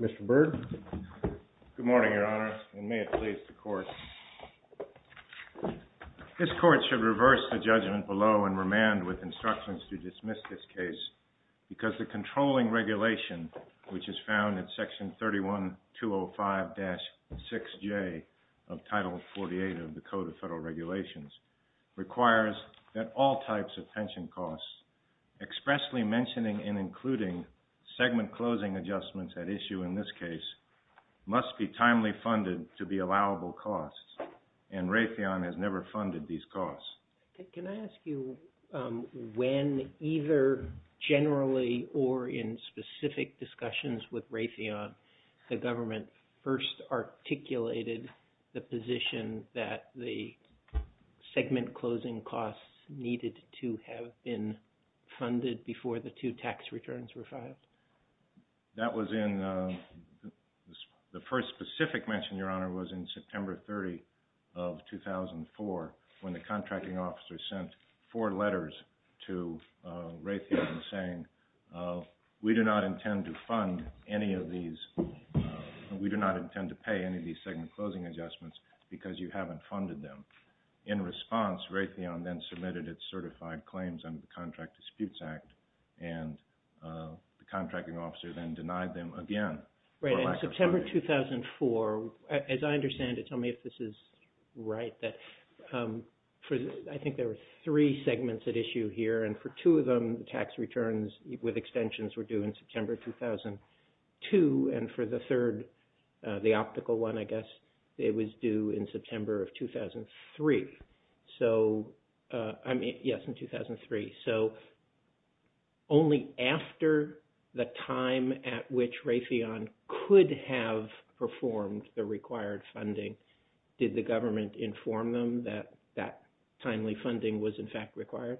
MR. BIRD. Good morning, Your Honor, and may it please the Court. This Court should reverse the judgment below and remand with instructions to dismiss this case because the controlling regulation which is found in Section 31205-6J of Title 48 of the Code of Federal Regulations requires that all types of pension costs expressly mentioning and including segment closing adjustments at issue in this case must be timely funded to be allowable costs, and Raytheon has never funded these costs. MR. BIRD. Can I ask you when either generally or in specific discussions with Raytheon the government first articulated the position that the segment closing costs needed to have been funded before the two tax returns were filed? MR. BIRD. That was in the first specific mention, Your Honor, was in September 30 of 2004 when the contracting officer sent four letters to Raytheon saying, we do not intend to fund any of these, we do not intend to pay any of these segment closing adjustments because you haven't funded them. In response, Raytheon then submitted its certified claims under the Contract Disputes Act, and the contracting officer then denied them again for lack of MR. BIRD. Right. In September 2004, as I understand it, tell me if this is right, that I think there were three segments at issue here, and for two of them, the tax returns with extensions were due in September 2002, and for the third, the optical one, I guess, it was due in September of 2003. So, I mean, yes, in 2003. So only after the time at which Raytheon could have performed the required funding did the government inform them that that timely funding was in fact required?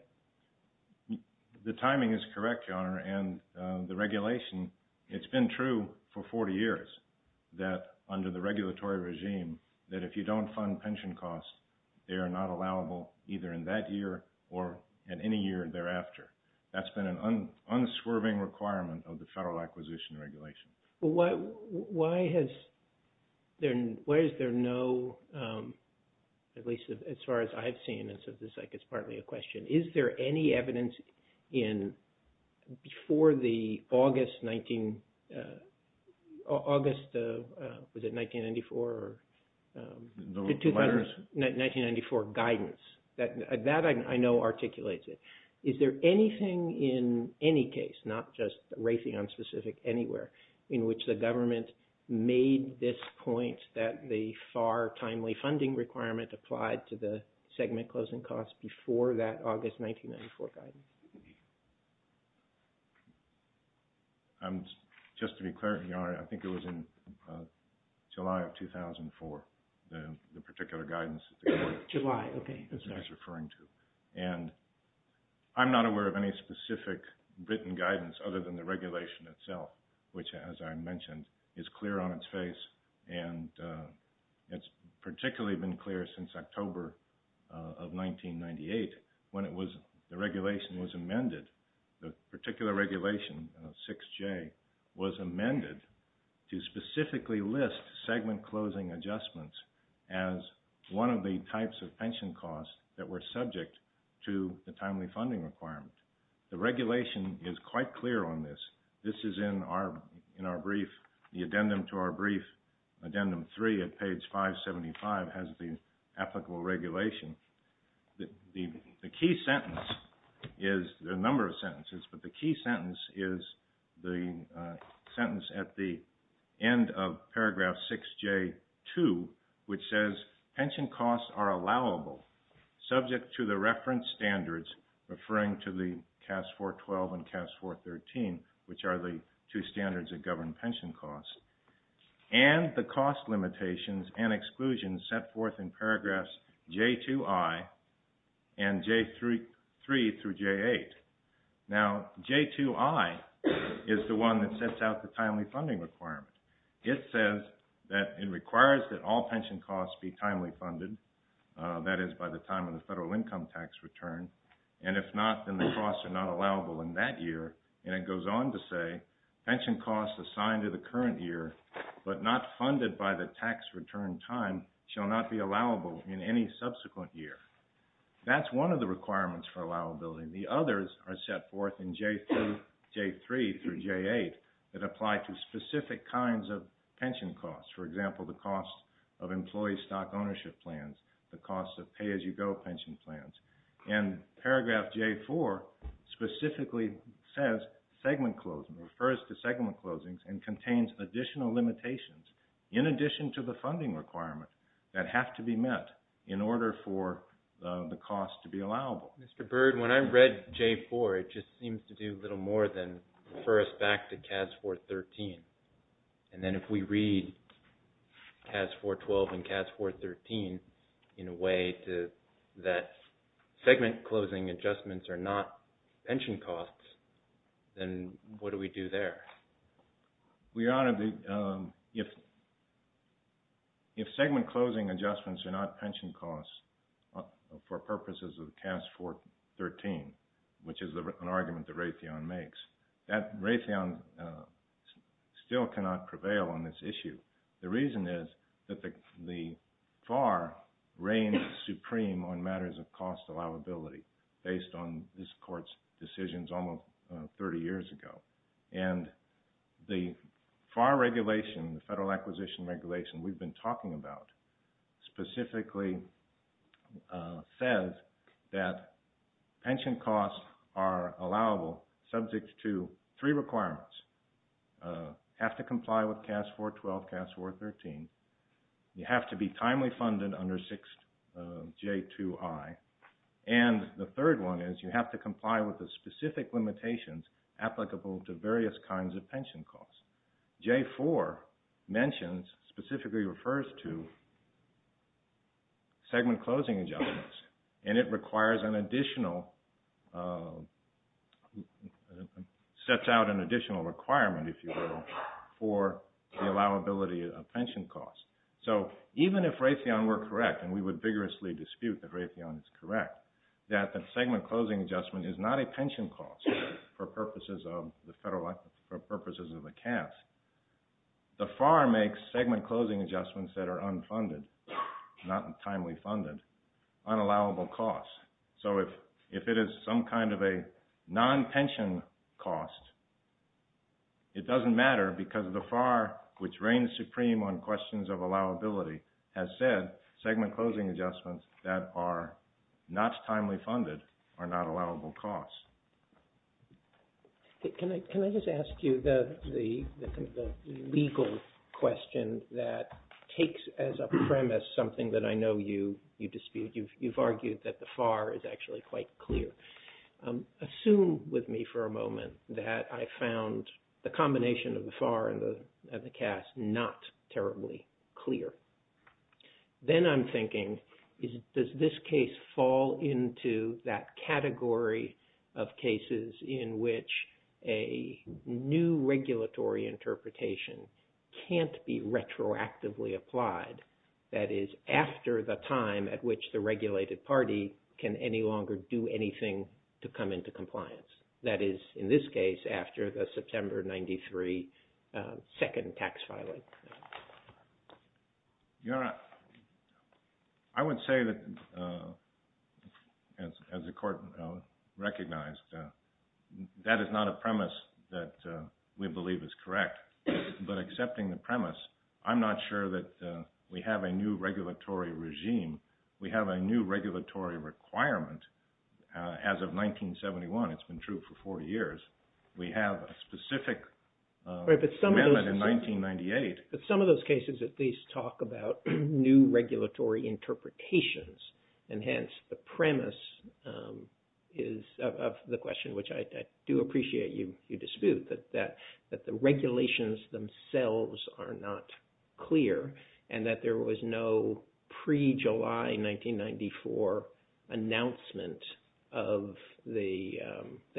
MR. BIRD. The timing is correct, Your Honor, and the regulation, it's been true for 40 years that under the regulatory regime that if you don't fund pension costs, they are not allowable either in that year or in any year thereafter. That's been an unswerving requirement of the Federal Acquisition Regulation. MR. TONER. Why is there no, at least as far as I've seen, it's like it's partly a question, is there any evidence in, before the August 1994 guidance, that I know articulates it, is there anything in any case, not just Raytheon specific, anywhere in which the government made this point that the FAR timely funding requirement applied to the segment closing costs before that August 1994 guidance? MR. BIRD. Just to be clear, Your Honor, I think it was in July of 2004, the particular guidance that they were referring to. And I'm not aware of any specific written guidance other than the regulation itself, which, as I mentioned, is clear on its face, and it's particularly been clear since October of 1998 when the regulation was amended. The particular regulation, 6J, was amended to specifically list segment closing adjustments as one of the types of pension costs that were subject to the timely funding requirement. The addendum to our brief, addendum 3 at page 575, has the applicable regulation. The key sentence is, there are a number of sentences, but the key sentence is the sentence at the end of paragraph 6J2, which says, pension costs are allowable subject to the reference standards, referring to the CAS 412 and CAS 413, which are the two standards that govern pension costs, and the cost limitations and exclusions set forth in paragraphs J2I and J3 through J8. Now, J2I is the one that sets out the timely funding requirement. It says that it requires that all pension costs be timely and that the costs are not allowable in that year, and it goes on to say, pension costs assigned to the current year, but not funded by the tax return time, shall not be allowable in any subsequent year. That's one of the requirements for allowability. The others are set forth in J2, J3, through J8 that apply to specific kinds of pension costs, for example, the cost of employee stock J4 specifically says segment closings, refers to segment closings, and contains additional limitations in addition to the funding requirement that have to be met in order for the cost to be allowable. Mr. Byrd, when I read J4, it just seems to do little more than refer us back to CAS 413, and then if we read CAS 412 and CAS 413 in a way that segment closing adjustments are not pension costs, then what do we do there? We ought to be, if segment closing adjustments are not pension costs for purposes of CAS 413, which is an issue. The reason is that the FAR reigns supreme on matters of cost allowability based on this Court's decisions almost 30 years ago. And the FAR regulation, the Federal Acquisition Regulation, we've been talking about, specifically says that pension costs are allowable subject to three requirements. You have to be timely funded under J2I. And the third one is you have to comply with the specific limitations applicable to various kinds of pension costs. J4 mentions, specifically refers to segment allowability of pension costs. So even if Raytheon were correct, and we would vigorously dispute that Raytheon is correct, that the segment closing adjustment is not a pension cost for purposes of the CAS, the FAR makes segment closing adjustments that are unfunded, not timely funded, unallowable costs. So if it is some kind of a non-pension cost, it doesn't matter because the FAR, which reigns supreme on questions of allowability, has said segment closing adjustments that are not timely funded are not allowable costs. Can I just ask you the legal question that takes as a premise something that I know you dispute. You've argued that the FAR is actually quite clear. Assume with me for a moment that I found the combination of the FAR and the CAS not terribly clear. Then I'm thinking, does this case fall into that category of cases in which a new regulatory interpretation can't be any longer do anything to come into compliance? That is, in this case, after the September 93 second tax filing. I would say that, as the Court recognized, that is not a premise that we believe is correct. But accepting the premise, I'm not sure that we have a new regulatory regime. We have a new regulatory requirement. As of 1971, it's been true for 40 years. We have a specific amendment in 1998. But some of those cases at least talk about new regulatory interpretations. And hence, the premise of the question, which I do appreciate you dispute, that the regulations themselves are not clear and that there was no pre-July 1994 announcement of the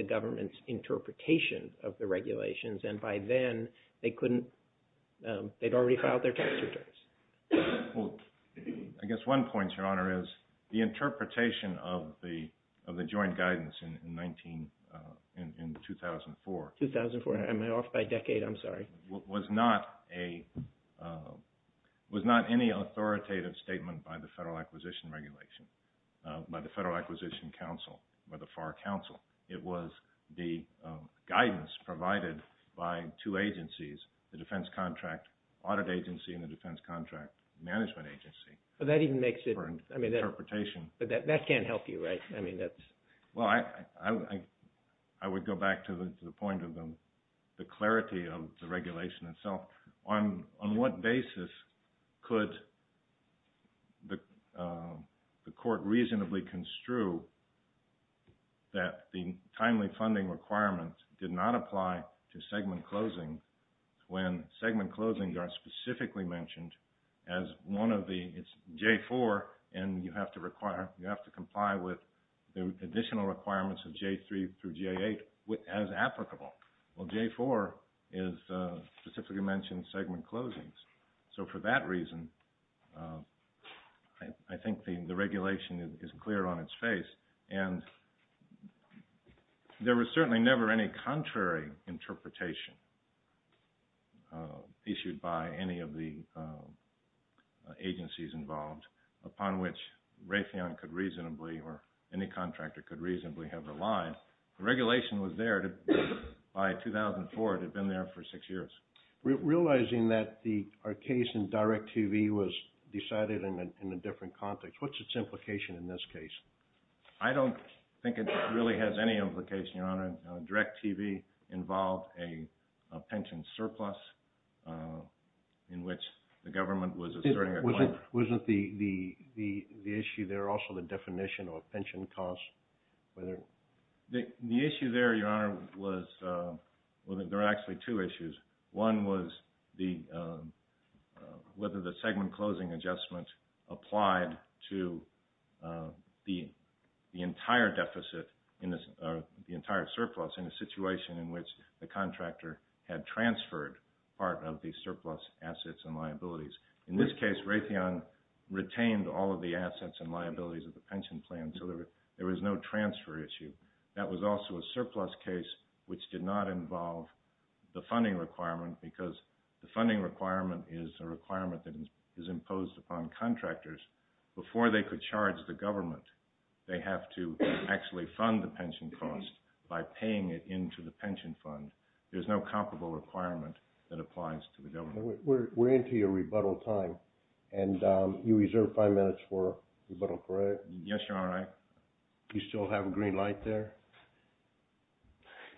government's interpretation of the regulations. And by then, they'd already filed their tax returns. I guess one point, Your Honor, is the interpretation of the joint guidance in 2004 was not any authoritative statement by the Federal Acquisition Regulation, by the Federal Acquisition Council, by the FAR Council. It was the guidance provided by two agencies, the defense contract audit agency and the defense contract management agency. But that even makes it, I mean, that can't help you, right? Well, I would go back to the point of the clarity of the regulation itself. On what basis could the Court reasonably construe that the timely regulation is specifically mentioned as one of the, it's J-4 and you have to comply with the additional requirements of J-3 through J-8 as applicable? Well, J-4 specifically mentions segment closings. So for that reason, I think the regulation is clear on its face. And there was certainly never any contrary interpretation issued by any of the agencies involved upon which Raytheon could reasonably or any contractor could reasonably have relied. The regulation was there by 2004. It had been there for six years. Realizing that our case in Direct TV was decided in a different context, what's its implication in this case? I don't think it really has any implication, Your Honor. Direct TV involved a pension surplus in which the government was asserting a claim. Wasn't the issue there also the definition of pension costs? The issue there, Your Honor, was, well, there are actually two issues. One was whether the segment closing adjustment applied to the entire deficit, the entire surplus in a situation in which the contractor had transferred part of the surplus assets and liabilities. In this case, Raytheon retained all of the assets and liabilities of the pension plan, so there was no transfer issue. That was also a surplus case which did not involve the funding requirement because the funding requirement is a requirement that is imposed upon contractors. Before they could charge the government, they have to actually fund the pension cost by paying it into the pension fund. There's no comparable requirement that applies to the government. We're into your rebuttal time, and you reserve five minutes for rebuttal, correct? Yes, Your Honor. Do you still have a green light there?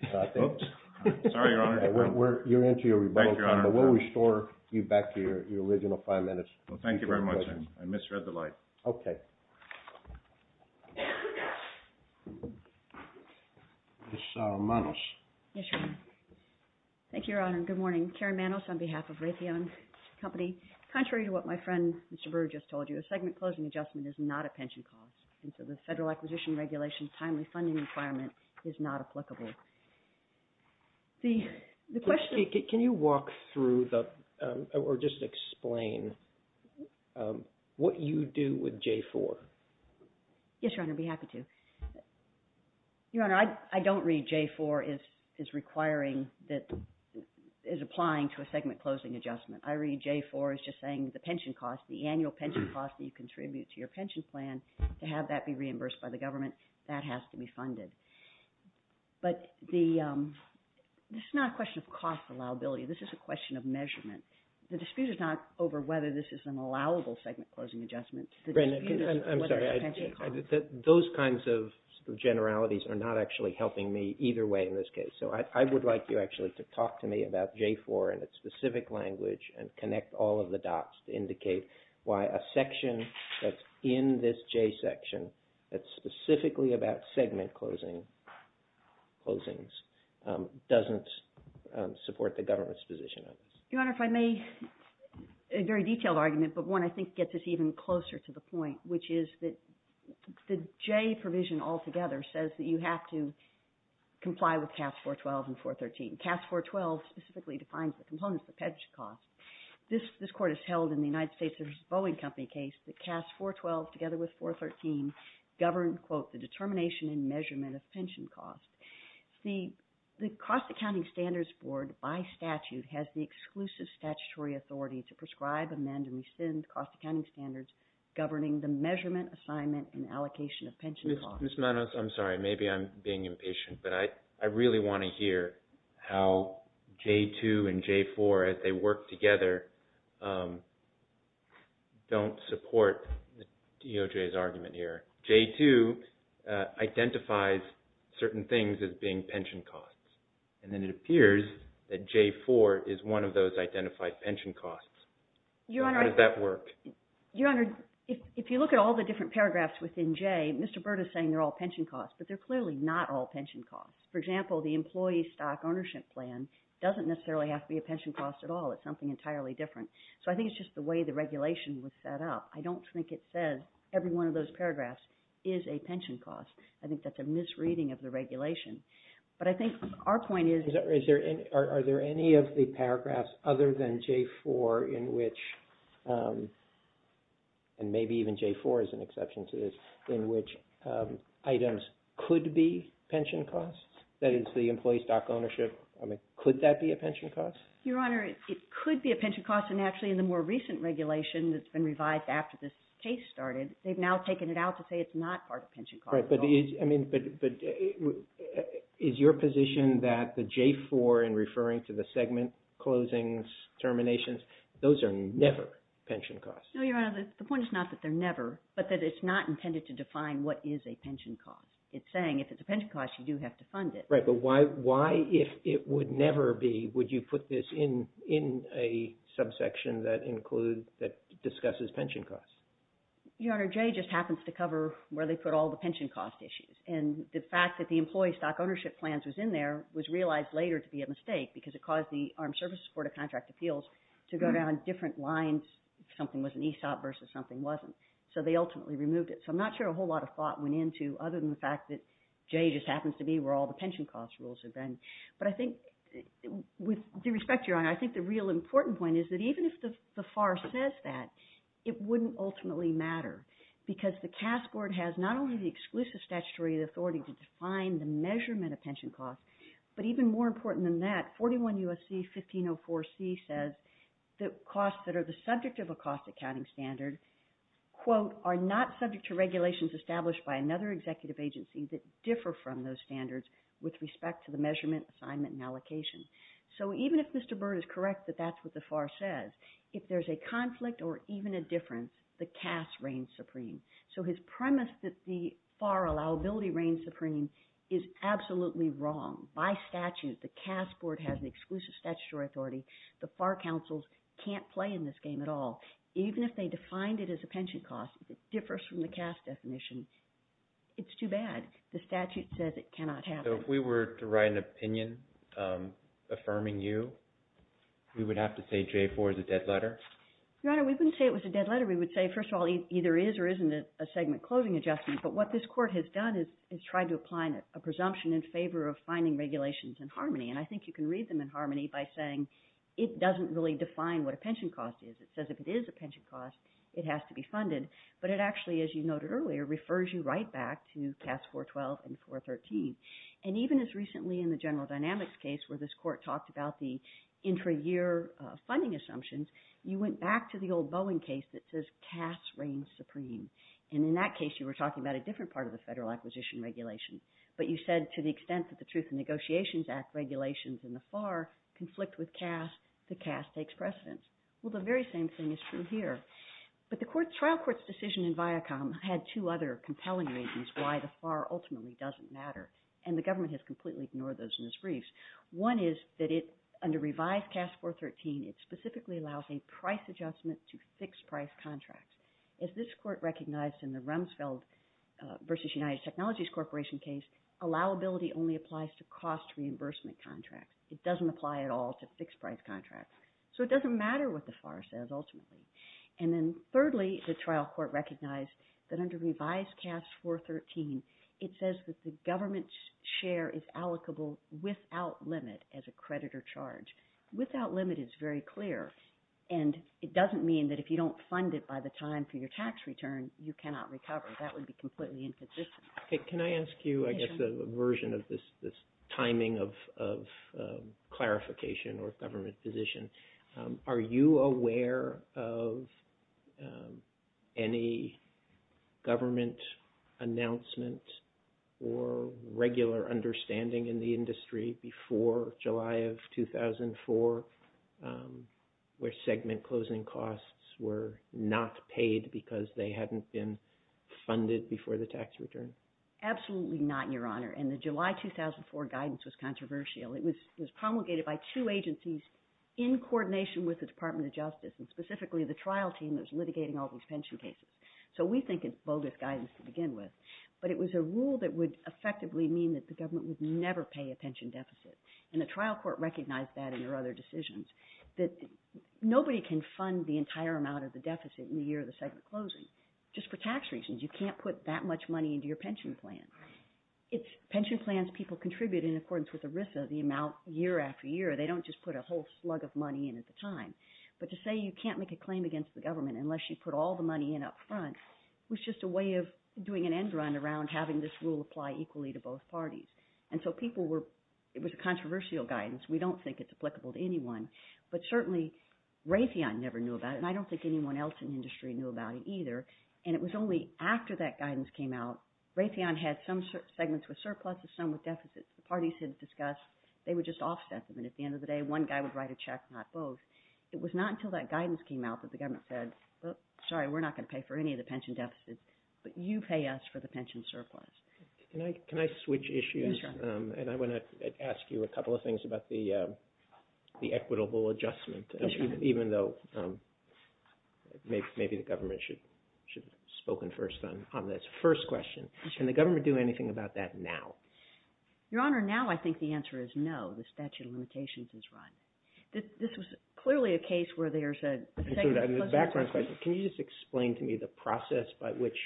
Oops. Sorry, Your Honor. You're into your rebuttal time, but we'll restore you back to your original five minutes. Thank you very much. I misread the light. Okay. Ms. Manos. Yes, Your Honor. Thank you, Your Honor. Good morning. Karen Manos on behalf of Raytheon Company. Contrary to what my friend, Mr. Brewer, just told you, a segment closing adjustment is not a pension cost, and so the Federal Acquisition Regulation's timely funding requirement is not applicable. Can you walk through or just explain what you do with J-4? Yes, Your Honor. I'd be happy to. Your Honor, I don't read J-4 as applying to a segment closing adjustment. I read J-4 as just saying the annual pension cost that you contribute to your pension plan, to have that be reimbursed by the government, that has to be funded. But this is not a question of cost allowability. This is a question of measurement. The dispute is not over whether this is an allowable segment closing adjustment. I'm sorry. Those kinds of generalities are not actually helping me either way in this case. So I would like you actually to talk to me about J-4 and its specific language and connect all of the dots to indicate why a section that's in this J section that's specifically about segment closings doesn't support the government's position on this. Your Honor, if I may, a very detailed argument, but one I think gets us even closer to the point, which is that the J provision altogether says that you have to comply with C.A.S.S. 412 and 413. C.A.S.S. 412 specifically defines the components, the pension cost. This Court has held in the United States there's a Boeing Company case that C.A.S.S. 412 together with 413 govern, quote, the determination and measurement of pension costs. The Cost Accounting Standards Board by statute has the exclusive statutory authority to prescribe, amend, and rescind cost accounting standards governing the measurement, assignment, and allocation of pension costs. Ms. Manos, I'm sorry. Maybe I'm being impatient, but I really want to hear how J-2 and J-4, as they work together, don't support DOJ's argument here. J-2 identifies certain things as being pension costs, and then it appears that J-4 is one of those identified pension costs. How does that work? Your Honor, if you look at all the different paragraphs within J, Mr. Byrd is saying they're all pension costs, but they're clearly not all pension costs. For example, the employee stock ownership plan doesn't necessarily have to be a pension cost at all. It's something entirely different. So I think it's just the way the regulation was set up. I don't think it says every one of those paragraphs is a pension cost. I think that's a misreading of the regulation. But I think our point is... Are there any of the paragraphs other than J-4 in which, and maybe even J-4 is an exception to this, in which items could be pension costs? That is, the employee stock ownership. I mean, could that be a pension cost? Your Honor, it could be a pension cost, and actually in the more recent regulation that's they've now taken it out to say it's not part of pension costs. Right, but is your position that the J-4 in referring to the segment closings, terminations, those are never pension costs? No, Your Honor, the point is not that they're never, but that it's not intended to define what is a pension cost. It's saying if it's a pension cost, you do have to fund it. Right, but why, if it would never be, would you put this in a subsection that discusses pension costs? Your Honor, J just happens to cover where they put all the pension cost issues. And the fact that the employee stock ownership plans was in there was realized later to be a mistake because it caused the Armed Services Court of Contract Appeals to go down different lines if something was an ESOP versus something wasn't. So they ultimately removed it. So I'm not sure a whole lot of thought went into other than the fact that J just happens to be where all the pension cost rules have been. But I think, with due respect, Your Honor, I think the real important point is that even if the FAR says that, it wouldn't ultimately matter because the CAS Board has not only the exclusive statutory authority to define the measurement of pension costs, but even more important than that, 41 U.S.C. 1504c says that costs that are the subject of a cost accounting standard, quote, are not subject to regulations established by another executive agency that differ from those standards with respect to the measurement, assignment, and allocation. So even if Mr. Byrd is correct that that's what the FAR says, if there's a conflict or even a difference, the CAS reigns supreme. So his premise that the FAR allowability reigns supreme is absolutely wrong. By statute, the CAS Board has an exclusive statutory authority. The FAR counsels can't play in this game at all. Even if they defined it as a pension cost, if it differs from the CAS definition, it's too bad. The statute says it cannot happen. So if we were to write an opinion affirming you, we would have to say J-4 is a dead letter? Your Honor, we wouldn't say it was a dead letter. We would say, first of all, either is or isn't it a segment closing adjustment. But what this Court has done is tried to apply a presumption in favor of finding regulations in harmony. And I think you can read them in harmony by saying it doesn't really define what a pension cost is. It says if it is a pension cost, it has to be funded. But it actually, as you noted earlier, refers you right back to CAS 412 and 413. And even as recently in the General Dynamics case where this Court talked about the intra-year funding assumptions, you went back to the old Boeing case that says CAS reigns supreme. And in that case, you were talking about a different part of the Federal Acquisition Regulation. But you said to the extent that the Truth in Negotiations Act regulations in the FAR conflict with CAS, the CAS takes precedence. Well, the very same thing is true here. But the trial court's decision in Viacom had two other compelling reasons why the FAR ultimately doesn't matter. And the government has completely ignored those in its briefs. One is that under revised CAS 413, it specifically allows a price adjustment to fixed price contracts. As this Court recognized in the Rumsfeld v. United Technologies Corporation case, allowability only applies to cost reimbursement contracts. It doesn't apply at all to fixed price contracts. So it doesn't matter what the FAR says ultimately. And then thirdly, the trial court recognized that under revised CAS 413, it says that the government's share is allocable without limit as a creditor charge. Without limit is very clear. And it doesn't mean that if you don't fund it by the time for your tax return, you cannot recover. That would be completely inconsistent. Can I ask you, I guess, a version of this timing of clarification or government position. Are you aware of any government announcement or regular understanding in the industry before July of 2004 where segment closing costs were not paid because they hadn't been funded before the tax return? Absolutely not, Your Honor. And the July 2004 guidance was coordination with the Department of Justice and specifically the trial team that was litigating all these pension cases. So we think it's bogus guidance to begin with. But it was a rule that would effectively mean that the government would never pay a pension deficit. And the trial court recognized that in their other decisions that nobody can fund the entire amount of the deficit in the year of the segment closing just for tax reasons. You can't put that much money into your pension plan. It's pension plans people contribute in accordance with ERISA, the amount year after year. They don't just put a whole slug of money in at the time. But to say you can't make a claim against the government unless you put all the money in up front was just a way of doing an end run around having this rule apply equally to both parties. And so people were, it was a controversial guidance. We don't think it's applicable to anyone. But certainly Raytheon never knew about it and I don't think anyone else in industry knew about it either. And it was only after that guidance came out, Raytheon had some segments with surpluses, some with deficits. The at the end of the day one guy would write a check, not both. It was not until that guidance came out that the government said, sorry, we're not going to pay for any of the pension deficits, but you pay us for the pension surplus. Can I switch issues? And I want to ask you a couple of things about the equitable adjustment, even though maybe the government should have spoken first on this. First question, can the government do anything about that now? Your Honor, now I think the answer is no. The statute of limitations is run. This was clearly a case where there's a... Can you just explain to me the process by which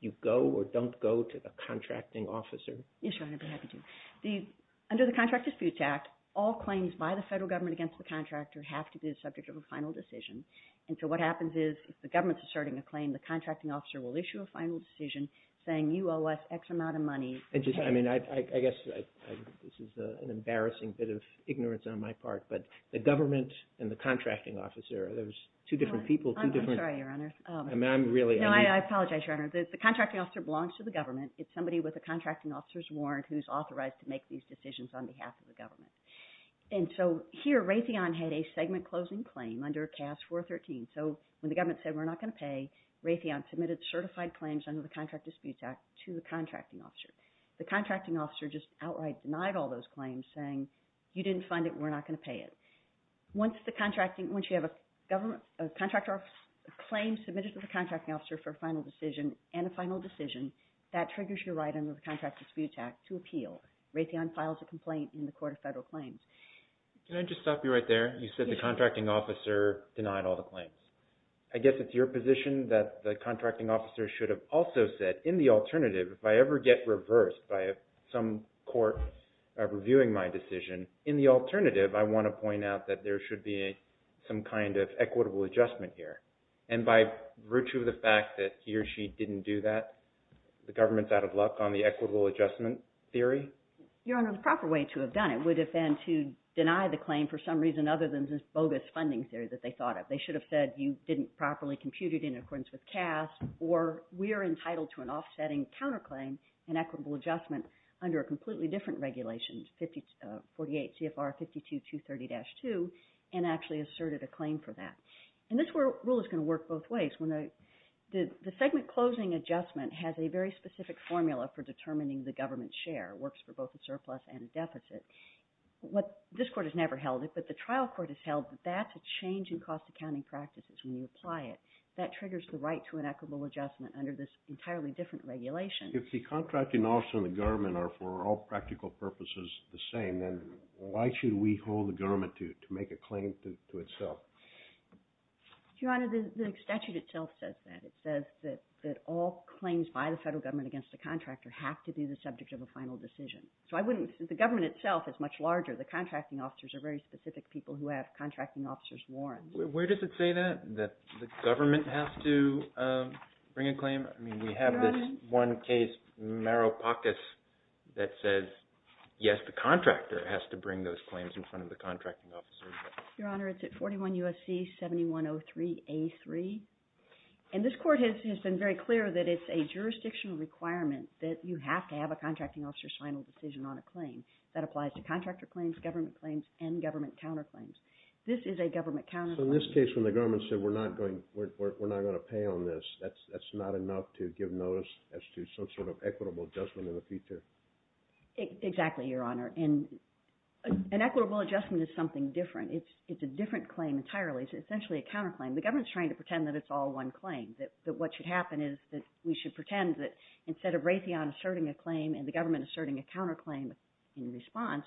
you go or don't go to the contracting officer? Yes, Your Honor, I'd be happy to. Under the Contract Disputes Act, all claims by the federal government against the contractor have to be the subject of a final decision. And so what happens is if the government's asserting a claim, the contracting officer will issue a final decision saying you owe us X amount of money. I mean, I guess this is an embarrassing bit of ignorance on my part, but the government and the contracting officer, there's two different people, two different... I'm sorry, Your Honor. I mean, I'm really... No, I apologize, Your Honor. The contracting officer belongs to the government. It's somebody with a contracting officer's warrant who's authorized to make these decisions on behalf of the government. And so here Raytheon had a segment closing claim under CAS 413. So when the government said we're not going to pay, Raytheon submitted certified claims under the Contract Disputes Act to the contracting officer. The contracting officer just outright denied all those claims saying, you didn't fund it, we're not going to pay it. Once the contracting... Once you have a government... a contractor claims submitted to the contracting officer for a final decision and a final decision, that triggers your right under the Contract Disputes Act to appeal. Raytheon files a complaint in the Court of Federal Claims. Can I just stop you right there? You said the contracting officer denied all the claims. I guess it's your position that the contracting officer should have also said, in the alternative, if I ever get reversed by some court reviewing my decision, in the alternative, I want to point out that there should be some kind of equitable adjustment here. And by virtue of the fact that he or she didn't do that, the government's out of luck on the equitable adjustment theory? Your Honor, the proper way to have done it would have been to deny the claim for some reason other than this bogus funding theory that they thought of. They should have said, you didn't properly compute it in accordance with CAS, or we are entitled to an offsetting counterclaim and equitable adjustment under a completely different regulation, 48 CFR 52230-2, and actually asserted a claim for that. And this rule is going to work both ways. The segment closing adjustment has a very specific formula for determining the deficit. This court has never held it, but the trial court has held that that's a change in cost accounting practices when you apply it. That triggers the right to an equitable adjustment under this entirely different regulation. If the contracting officer and the government are, for all practical purposes, the same, then why should we hold the government to make a claim to itself? Your Honor, the statute itself says that. It says that all claims by the federal government against the contractor have to be the subject of a final decision. The government itself is much larger. The contracting officers are very specific people who have contracting officers' warrants. Where does it say that, that the government has to bring a claim? We have this one case, Maropakis, that says, yes, the contractor has to bring those claims in front of the contracting officer. Your Honor, it's at 41 U.S.C. 7103-A3. And this court has been very clear that it's a jurisdictional requirement that you have to have a contracting officer's final decision on a claim. That applies to contractor claims, government claims, and government counter claims. This is a government counter claim. So in this case, when the government said, we're not going to pay on this, that's not enough to give notice as to some sort of equitable adjustment in the future? Exactly, Your Honor. An equitable adjustment is something different. It's a different claim entirely. It's essentially a counter claim. The government's trying to pretend that it's all one claim, that what should happen is that we should pretend that instead of Raytheon asserting a claim and the government asserting a counter claim in response,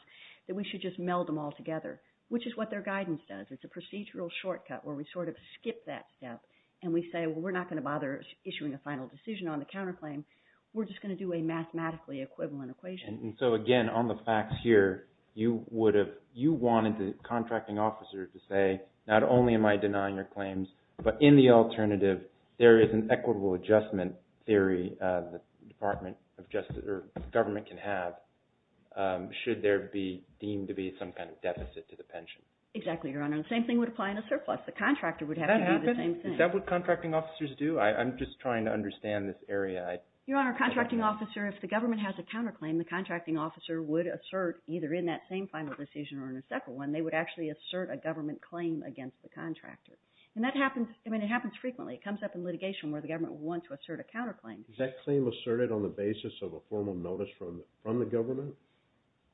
that we should just meld them all together, which is what their guidance does. It's a procedural shortcut where we sort of skip that step and we say, well, we're not going to bother issuing a final decision on the counter claim. We're just going to do a mathematically equivalent equation. And so again, on the facts here, you would have, you wanted the contracting officer to say, not only am I denying your there is an equitable adjustment theory the government can have should there be deemed to be some kind of deficit to the pension. Exactly, Your Honor. The same thing would apply in a surplus. The contractor would have to do the same thing. Is that what contracting officers do? I'm just trying to understand this area. Your Honor, a contracting officer, if the government has a counter claim, the contracting officer would assert either in that same final decision or in a separate one, they would actually assert a government claim against the contractor. And it happens frequently. It comes up in litigation where the government would want to assert a counter claim. Is that claim asserted on the basis of a formal notice from the government?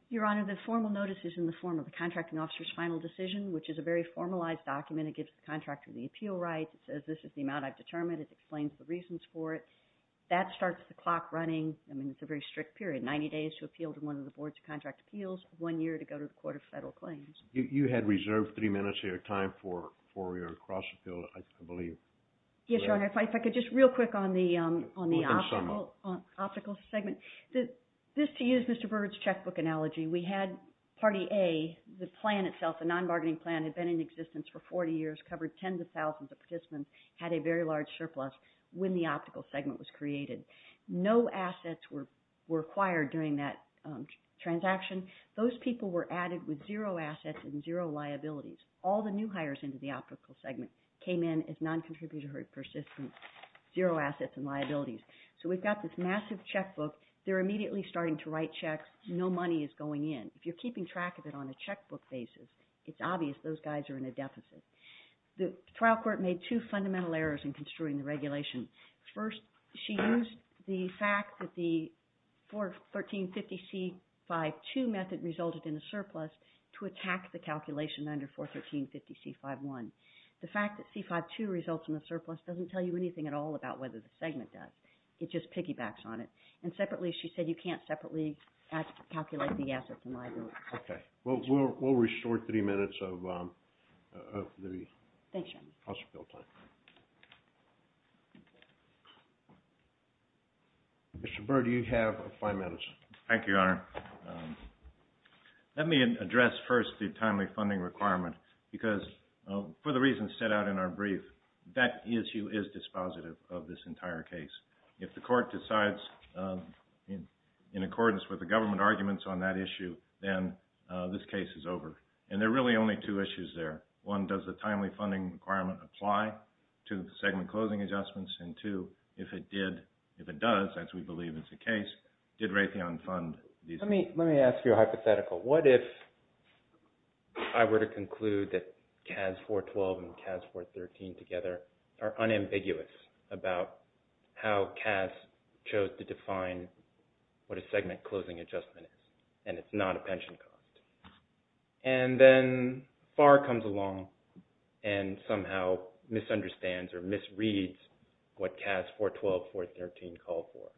Your Honor, the formal notice is in the form of the contracting officer's final decision, which is a very formalized document. It gives the contractor the appeal rights. It says, this is the amount I've determined. It explains the reasons for it. That starts the clock running. I mean, it's a very strict period, 90 days to appeal to one of the boards of contract appeals, one year to go to the court of federal claims. You had reserved three minutes here, time for cross appeal, I believe. Yes, Your Honor, if I could just real quick on the optical segment. This, to use Mr. Byrd's checkbook analogy, we had party A, the plan itself, the non-bargaining plan had been in existence for 40 years, covered tens of thousands of participants, had a very large surplus when the optical segment was created. No assets were acquired during that transaction. Those people were added with zero assets and zero liabilities. All the new hires into the optical segment came in as non-contributory persistence, zero assets and liabilities. So we've got this massive checkbook. They're immediately starting to write checks. No money is going in. If you're keeping track of it on a checkbook basis, it's obvious those guys are in a deficit. The trial court made two fundamental errors in construing the regulation. First, she used the fact that the 41350C52 method resulted in a surplus to attack the calculation under 41350C51. The fact that C52 results in a surplus doesn't tell you anything at all about whether the segment does. It just piggybacks on it. And separately, she said you can't separately calculate the assets and liabilities. Okay, we'll restore three minutes of the House appeal time. Mr. Byrd, you have five minutes. Thank you, Your Honor. Let me address first the timely funding requirement because for the reasons set out in our brief, that issue is dispositive of this entire case. If the court decides in accordance with the government arguments on that issue, then this case is over. And there are really only two issues there. One, does the government apply to the segment closing adjustments? And two, if it does, as we believe is the case, did Raytheon fund these? Let me ask you a hypothetical. What if I were to conclude that CAS 412 and CAS 413 together are unambiguous about how CAS chose to define what a segment misunderstands or misreads what CAS 412, 413 call for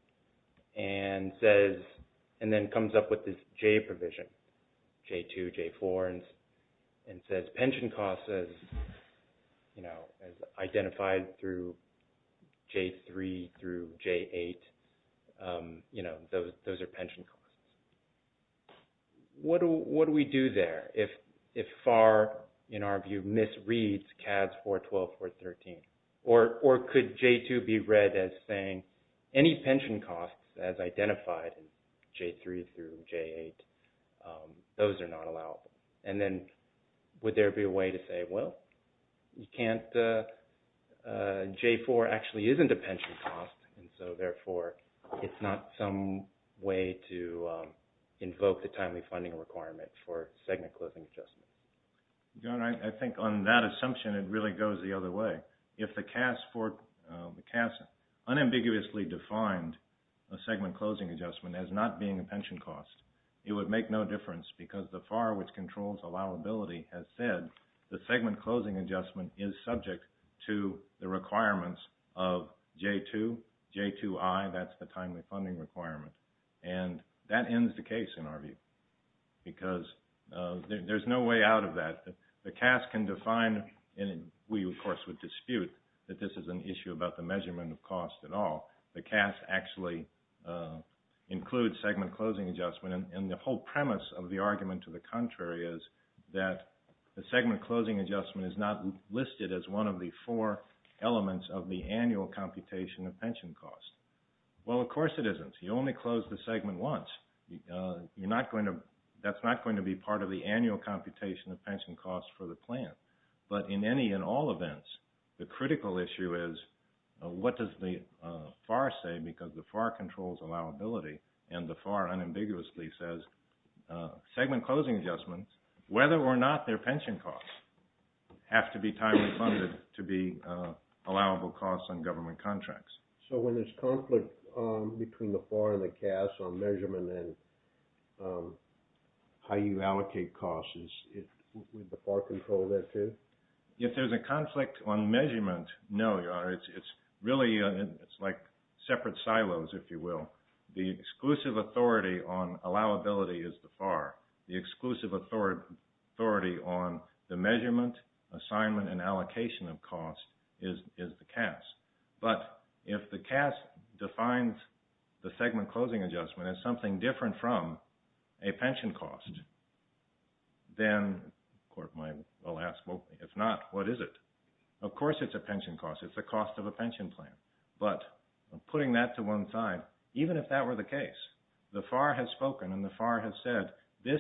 and then comes up with this J provision, J2, J4, and says pension costs as identified through J3 through J8, those are pension costs. What do we do there if FAR, in our view, misreads CAS 412, 413? Or could J2 be read as saying any pension costs as identified in J3 through J8, those are not allowable? And then would there be a way to say, well, you can't, J4 actually isn't a pension cost. And so therefore, it's not some way to invoke the timely funding requirement for segment closing adjustment. John, I think on that assumption, it really goes the other way. If the CAS unambiguously defined a segment closing adjustment as not being a pension cost, it would make no difference because the FAR, which controls allowability, has said the segment closing adjustment is subject to the requirements of J2, J2I, that's the timely funding requirement. And that ends the case, in our view, because there's no way out of that. The CAS can define, and we, of course, would dispute that this is an issue about the measurement of cost at all. The CAS actually includes segment closing adjustment. And the whole premise of the argument to the contrary is that the segment closing adjustment is not listed as one of the four elements of the annual computation of pension costs. Well, of course it isn't. You only close the segment once. That's not going to be part of the annual computation of pension costs for the plan. But in any and all events, the critical issue is, what does the FAR say? Because the FAR controls allowability, and the FAR unambiguously says segment closing adjustments, whether or not they're pension costs, have to be timely funded to be allowable costs on government contracts. So when there's conflict between the FAR and the CAS on measurement and how you allocate costs, would the FAR control that too? If there's a conflict on measurement, no, Your Honor. It's really like separate silos, if you will. The exclusive authority on allowability is the FAR. The exclusive authority on the measurement, assignment, and allocation of cost is the CAS. But if the CAS defines the segment closing adjustment as something different from a pension cost, then the court might well ask, well, if not, what is it? Of course it's a pension cost. It's the cost of a pension plan. But putting that to one side, even if that were the case, the FAR has spoken, and the FAR has said, this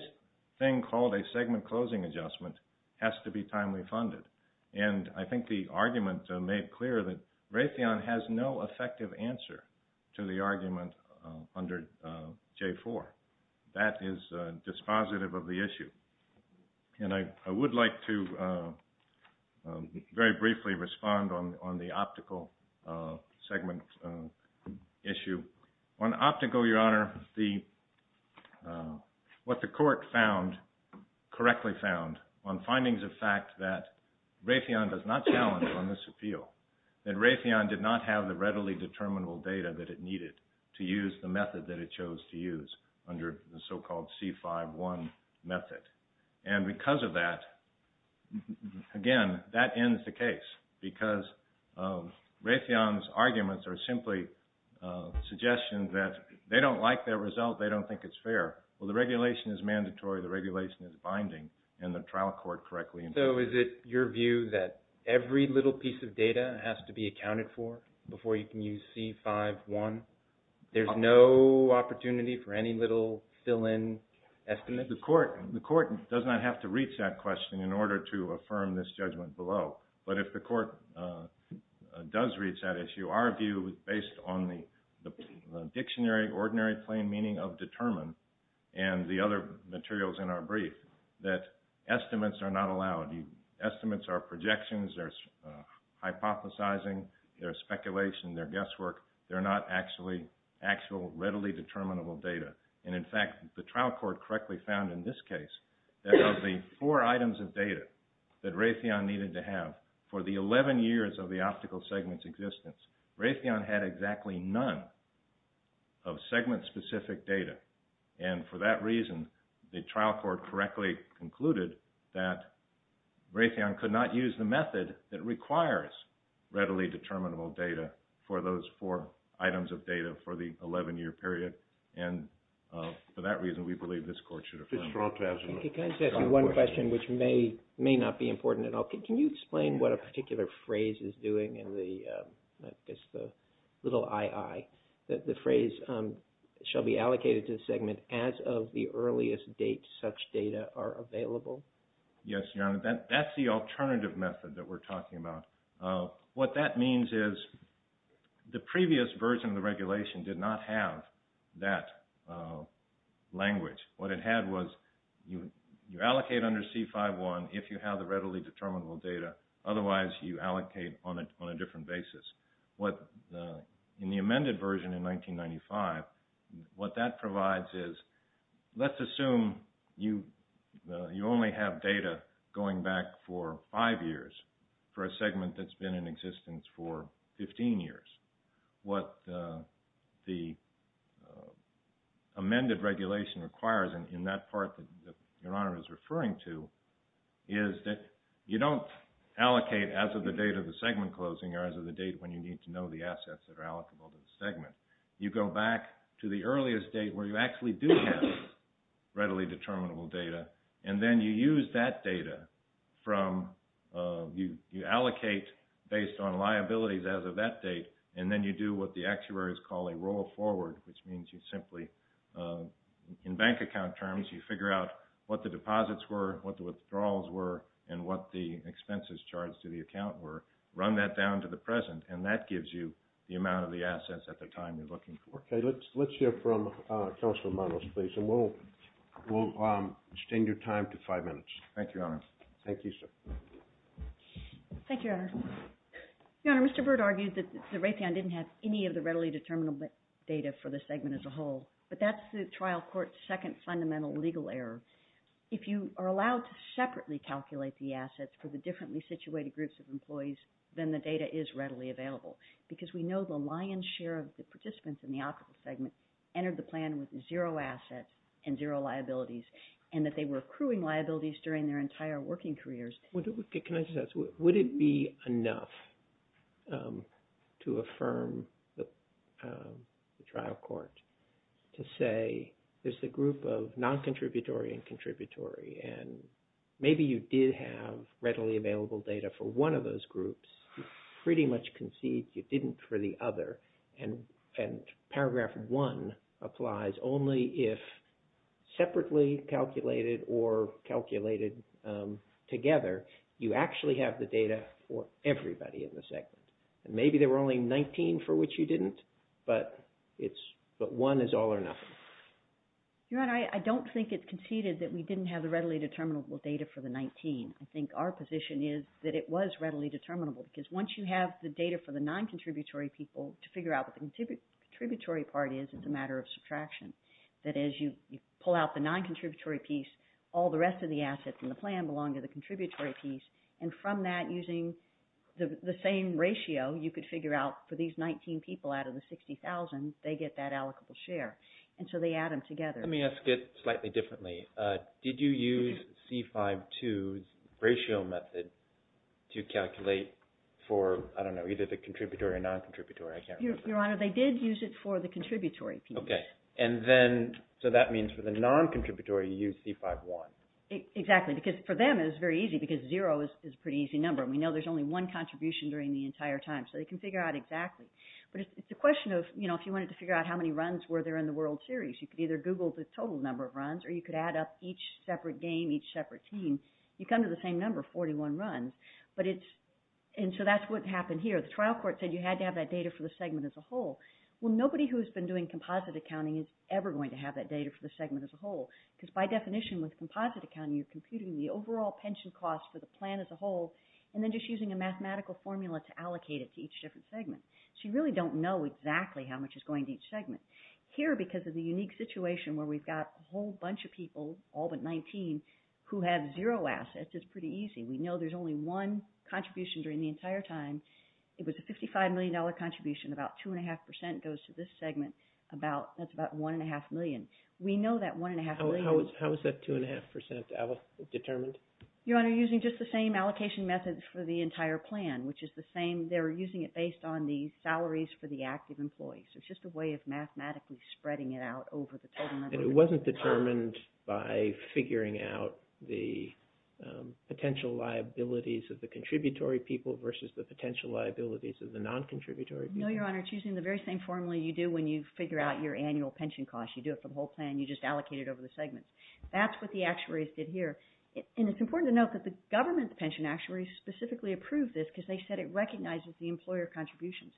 thing called a segment closing adjustment has to be timely funded. And I think the argument made clear that Raytheon has no effective answer to the argument under J4. That is dispositive of the issue. And I would like to very briefly respond on the optical segment issue. On optical, Your Honor, what the court found, correctly found, on findings of fact that Raytheon does not challenge on this appeal, that Raytheon did not have the readily determinable data that it needed to use the method that it chose to use under the so-called C5-1 method. And because of that, again, that ends the case. Because Raytheon's arguments are simply suggestions that they don't like that result. They don't think it's fair. Well, the regulation is mandatory. The regulation is mandatory. The data has to be accounted for before you can use C5-1. There's no opportunity for any little fill-in estimates. The court does not have to reach that question in order to affirm this judgment below. But if the court does reach that issue, our view is based on the dictionary, ordinary plain meaning of determine, and the other materials in our brief, that estimates are not hypothesizing, they're speculation, they're guesswork, they're not actually, actual readily determinable data. And in fact, the trial court correctly found in this case that of the four items of data that Raytheon needed to have for the 11 years of the optical segment's existence, Raytheon had exactly none of segment-specific data. And for that reason, the trial court correctly concluded that Raytheon could not use the method that requires readily determinable data for those four items of data for the 11-year period. And for that reason, we believe this court should affirm. Can I just ask you one question, which may not be important at all? Can you explain what a particular phrase is doing in the little ii, that the phrase shall be allocated to the segment as of the earliest date such data are available? Yes, Your Honor, that's the alternative method that we're talking about. What that means is the previous version of the regulation did not have that language. What it had was you allocate under C-5-1 if you have the readily determinable data, otherwise you allocate on a different basis. In the amended version in 1995, what that provides is, let's assume you only have data going back for five years for a segment that's been in existence for 15 years. What the amended regulation requires in that part that Your Honor is referring to is that you don't allocate as of the date of the segment closing or as of the date when you need to know the assets that are allocable to the segment. You go back to the earliest date where you actually do have readily determinable data, and then you use that data from, you allocate based on liabilities as of that date, and then you do what the actuaries call a roll forward, which means you simply, in bank account terms, you figure out what the deposits were, what the withdrawals were, and what the expenses charged to the account were, run that down to the present, and that gives you the amount of the assets at the time you're looking for. Okay, let's hear from Counselor Maros, please, and we'll extend your time to five minutes. Thank you, Your Honor. Thank you, sir. Thank you, Your Honor. Your Honor, Mr. Byrd argued that the Raytheon didn't have any of the readily determinable data for the segment as a separately calculate the assets for the differently situated groups of employees than the data is readily available, because we know the lion's share of the participants in the optical segment entered the plan with zero assets and zero liabilities, and that they were accruing liabilities during their entire working careers. Can I just ask, would it be enough to affirm the trial court to say there's a group of non-contributory and contributory, and maybe you did have readily available data for one of those groups, you pretty much concede you didn't for the other, and paragraph one applies only if separately calculated or calculated together, you actually have the data for everybody in the segment, and maybe there were only 19 for which you didn't, but one is all or nothing. Your Honor, I don't think it conceded that we didn't have the readily determinable data for the 19. I think our position is that it was readily determinable, because once you have the data for the non-contributory people to figure out what the contributory part is, it's a matter of subtraction, that as you pull out the non-contributory piece, all the rest of the assets in the plan belong to the contributory piece, and from that using the same ratio, you could figure out for these 19 people out of the 60,000, they get that allocable share, and so they add them together. Let me ask it slightly differently. Did you use C-5-2's ratio method to calculate for, I don't know, either the contributory or non-contributory, I can't remember. Your Honor, they did use it for the contributory piece. Okay, and then, so that non-contributory, you used C-5-1. Exactly, because for them it was very easy, because zero is a pretty easy number, and we know there's only one contribution during the entire time, so they can figure out exactly, but it's a question of, you know, if you wanted to figure out how many runs were there in the World Series, you could either Google the total number of runs, or you could add up each separate game, each separate team, you come to the same number, 41 runs, but it's, and so that's what happened here. The trial court said you had to have that data for the segment as a whole. Well, nobody who's been doing composite accounting is ever going to have that data for the segment as a whole, because by definition with composite accounting, you're computing the overall pension cost for the plan as a whole, and then just using a mathematical formula to allocate it to each different segment, so you really don't know exactly how much is going to each segment. Here, because of the unique situation where we've got a whole bunch of people, all but 19, who have zero assets, it's pretty easy. We know there's only one contribution during the entire time. It was a 55 million dollar contribution, about two and a half percent goes to this segment, about, that's about one and a half million. We know that one and a half million. How is that two and a half percent determined? Your Honor, using just the same allocation methods for the entire plan, which is the same, they're using it based on the salaries for the active employees. It's just a way of mathematically spreading it out over the total number. And it wasn't determined by figuring out the potential liabilities of the contributory people versus the potential liabilities of the non-contributory people? No, Your Honor, it's using the very same formula you do when you figure out your annual pension cost. You do it for the whole plan, you just allocate it over the segments. That's what the actuaries did here. And it's important to note that the government pension actuaries specifically approved this because they said it recognizes the employer contributions.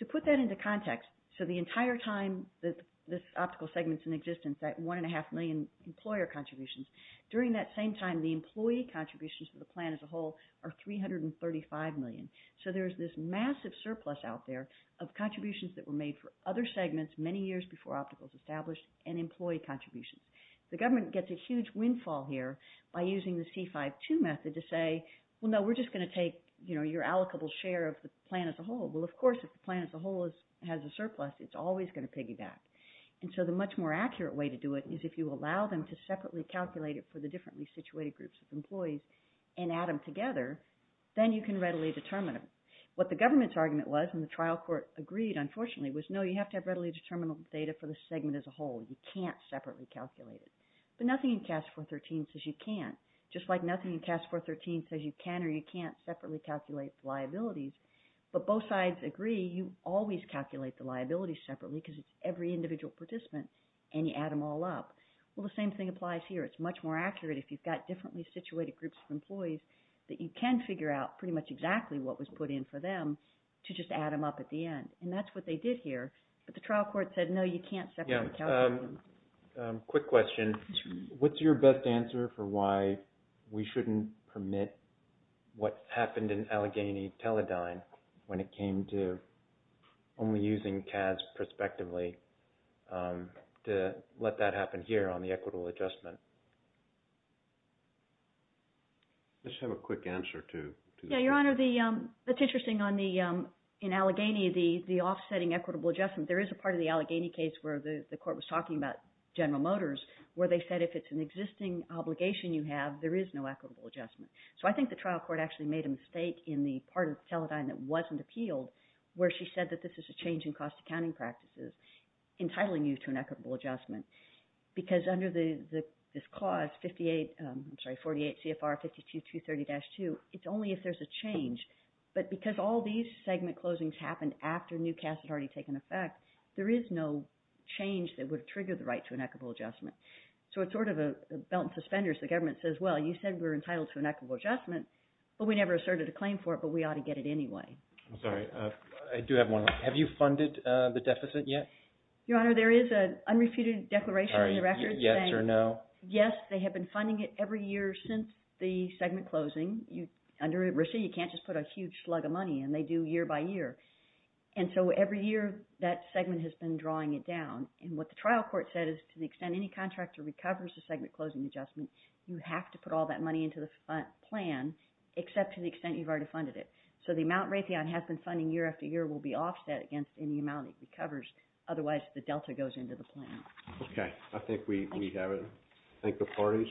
To put that into context, so the entire time that this optical segment's in existence, that one and a half million employer contributions, during that same time, the employee contributions for the plan as a whole are 335 million. So there's this massive surplus out there of contributions that were made for other segments many years before optical was established and employee contributions. The government gets a huge windfall here by using the C-5-2 method to say, well, no, we're just going to take your allocable share of the plan as a whole. Well, of course, if the plan as a whole has a surplus, it's always going to piggyback. And so the much more accurate way to do it is if you allow them to separately calculate it for the What the government's argument was, and the trial court agreed, unfortunately, was no, you have to have readily determinable data for the segment as a whole. You can't separately calculate it. But nothing in CAS 413 says you can't. Just like nothing in CAS 413 says you can or you can't separately calculate liabilities. But both sides agree you always calculate the liabilities separately because it's every individual participant and you add them all up. Well, the same thing applies here. It's much more accurate if you've got differently situated groups of employees that you can figure out pretty much exactly what was put in for them to just add them up at the end. And that's what they did here. But the trial court said, no, you can't separate. Yeah. Quick question. What's your best answer for why we shouldn't permit what happened in Allegheny Teledyne when it came to only using CAS prospectively to let that happen here on the equitable adjustment? Let's have a quick answer to that. Yeah, Your Honor, that's interesting. In Allegheny, the offsetting equitable adjustment, there is a part of the Allegheny case where the court was talking about General Motors where they said if it's an existing obligation you have, there is no equitable adjustment. So I think the trial court actually made a mistake in the part of Teledyne that wasn't appealed where she said that this is a change in cost accounting practices entitling you to an equitable adjustment. Because under this clause, 48 CFR 52-230-2, it's only if there's a change. But because all these segment closings happened after new CAS had already taken effect, there is no change that would trigger the right to an equitable adjustment. So it's sort of a belt and suspenders. The government says, well, you said we're entitled to an equitable adjustment, but we never asserted a claim for it, but we ought to get it anyway. I'm sorry. I do have one. Have you funded the deficit yet? Your Honor, there is an unrefuted declaration in the record saying, yes, they have been funding it every year since the segment closing. Under RISA, you can't just put a huge slug of money in. They do year by year. And so every year that segment has been drawing it down. And what the trial court said is to the extent any contractor recovers the segment closing adjustment, you have to put all that money into the plan, except to the extent you've already funded it. So the amount Raytheon has been funding year after year will be offset against any amount it recovers. Otherwise, the delta goes into the plan. OK. I think we have it. Thank the parties.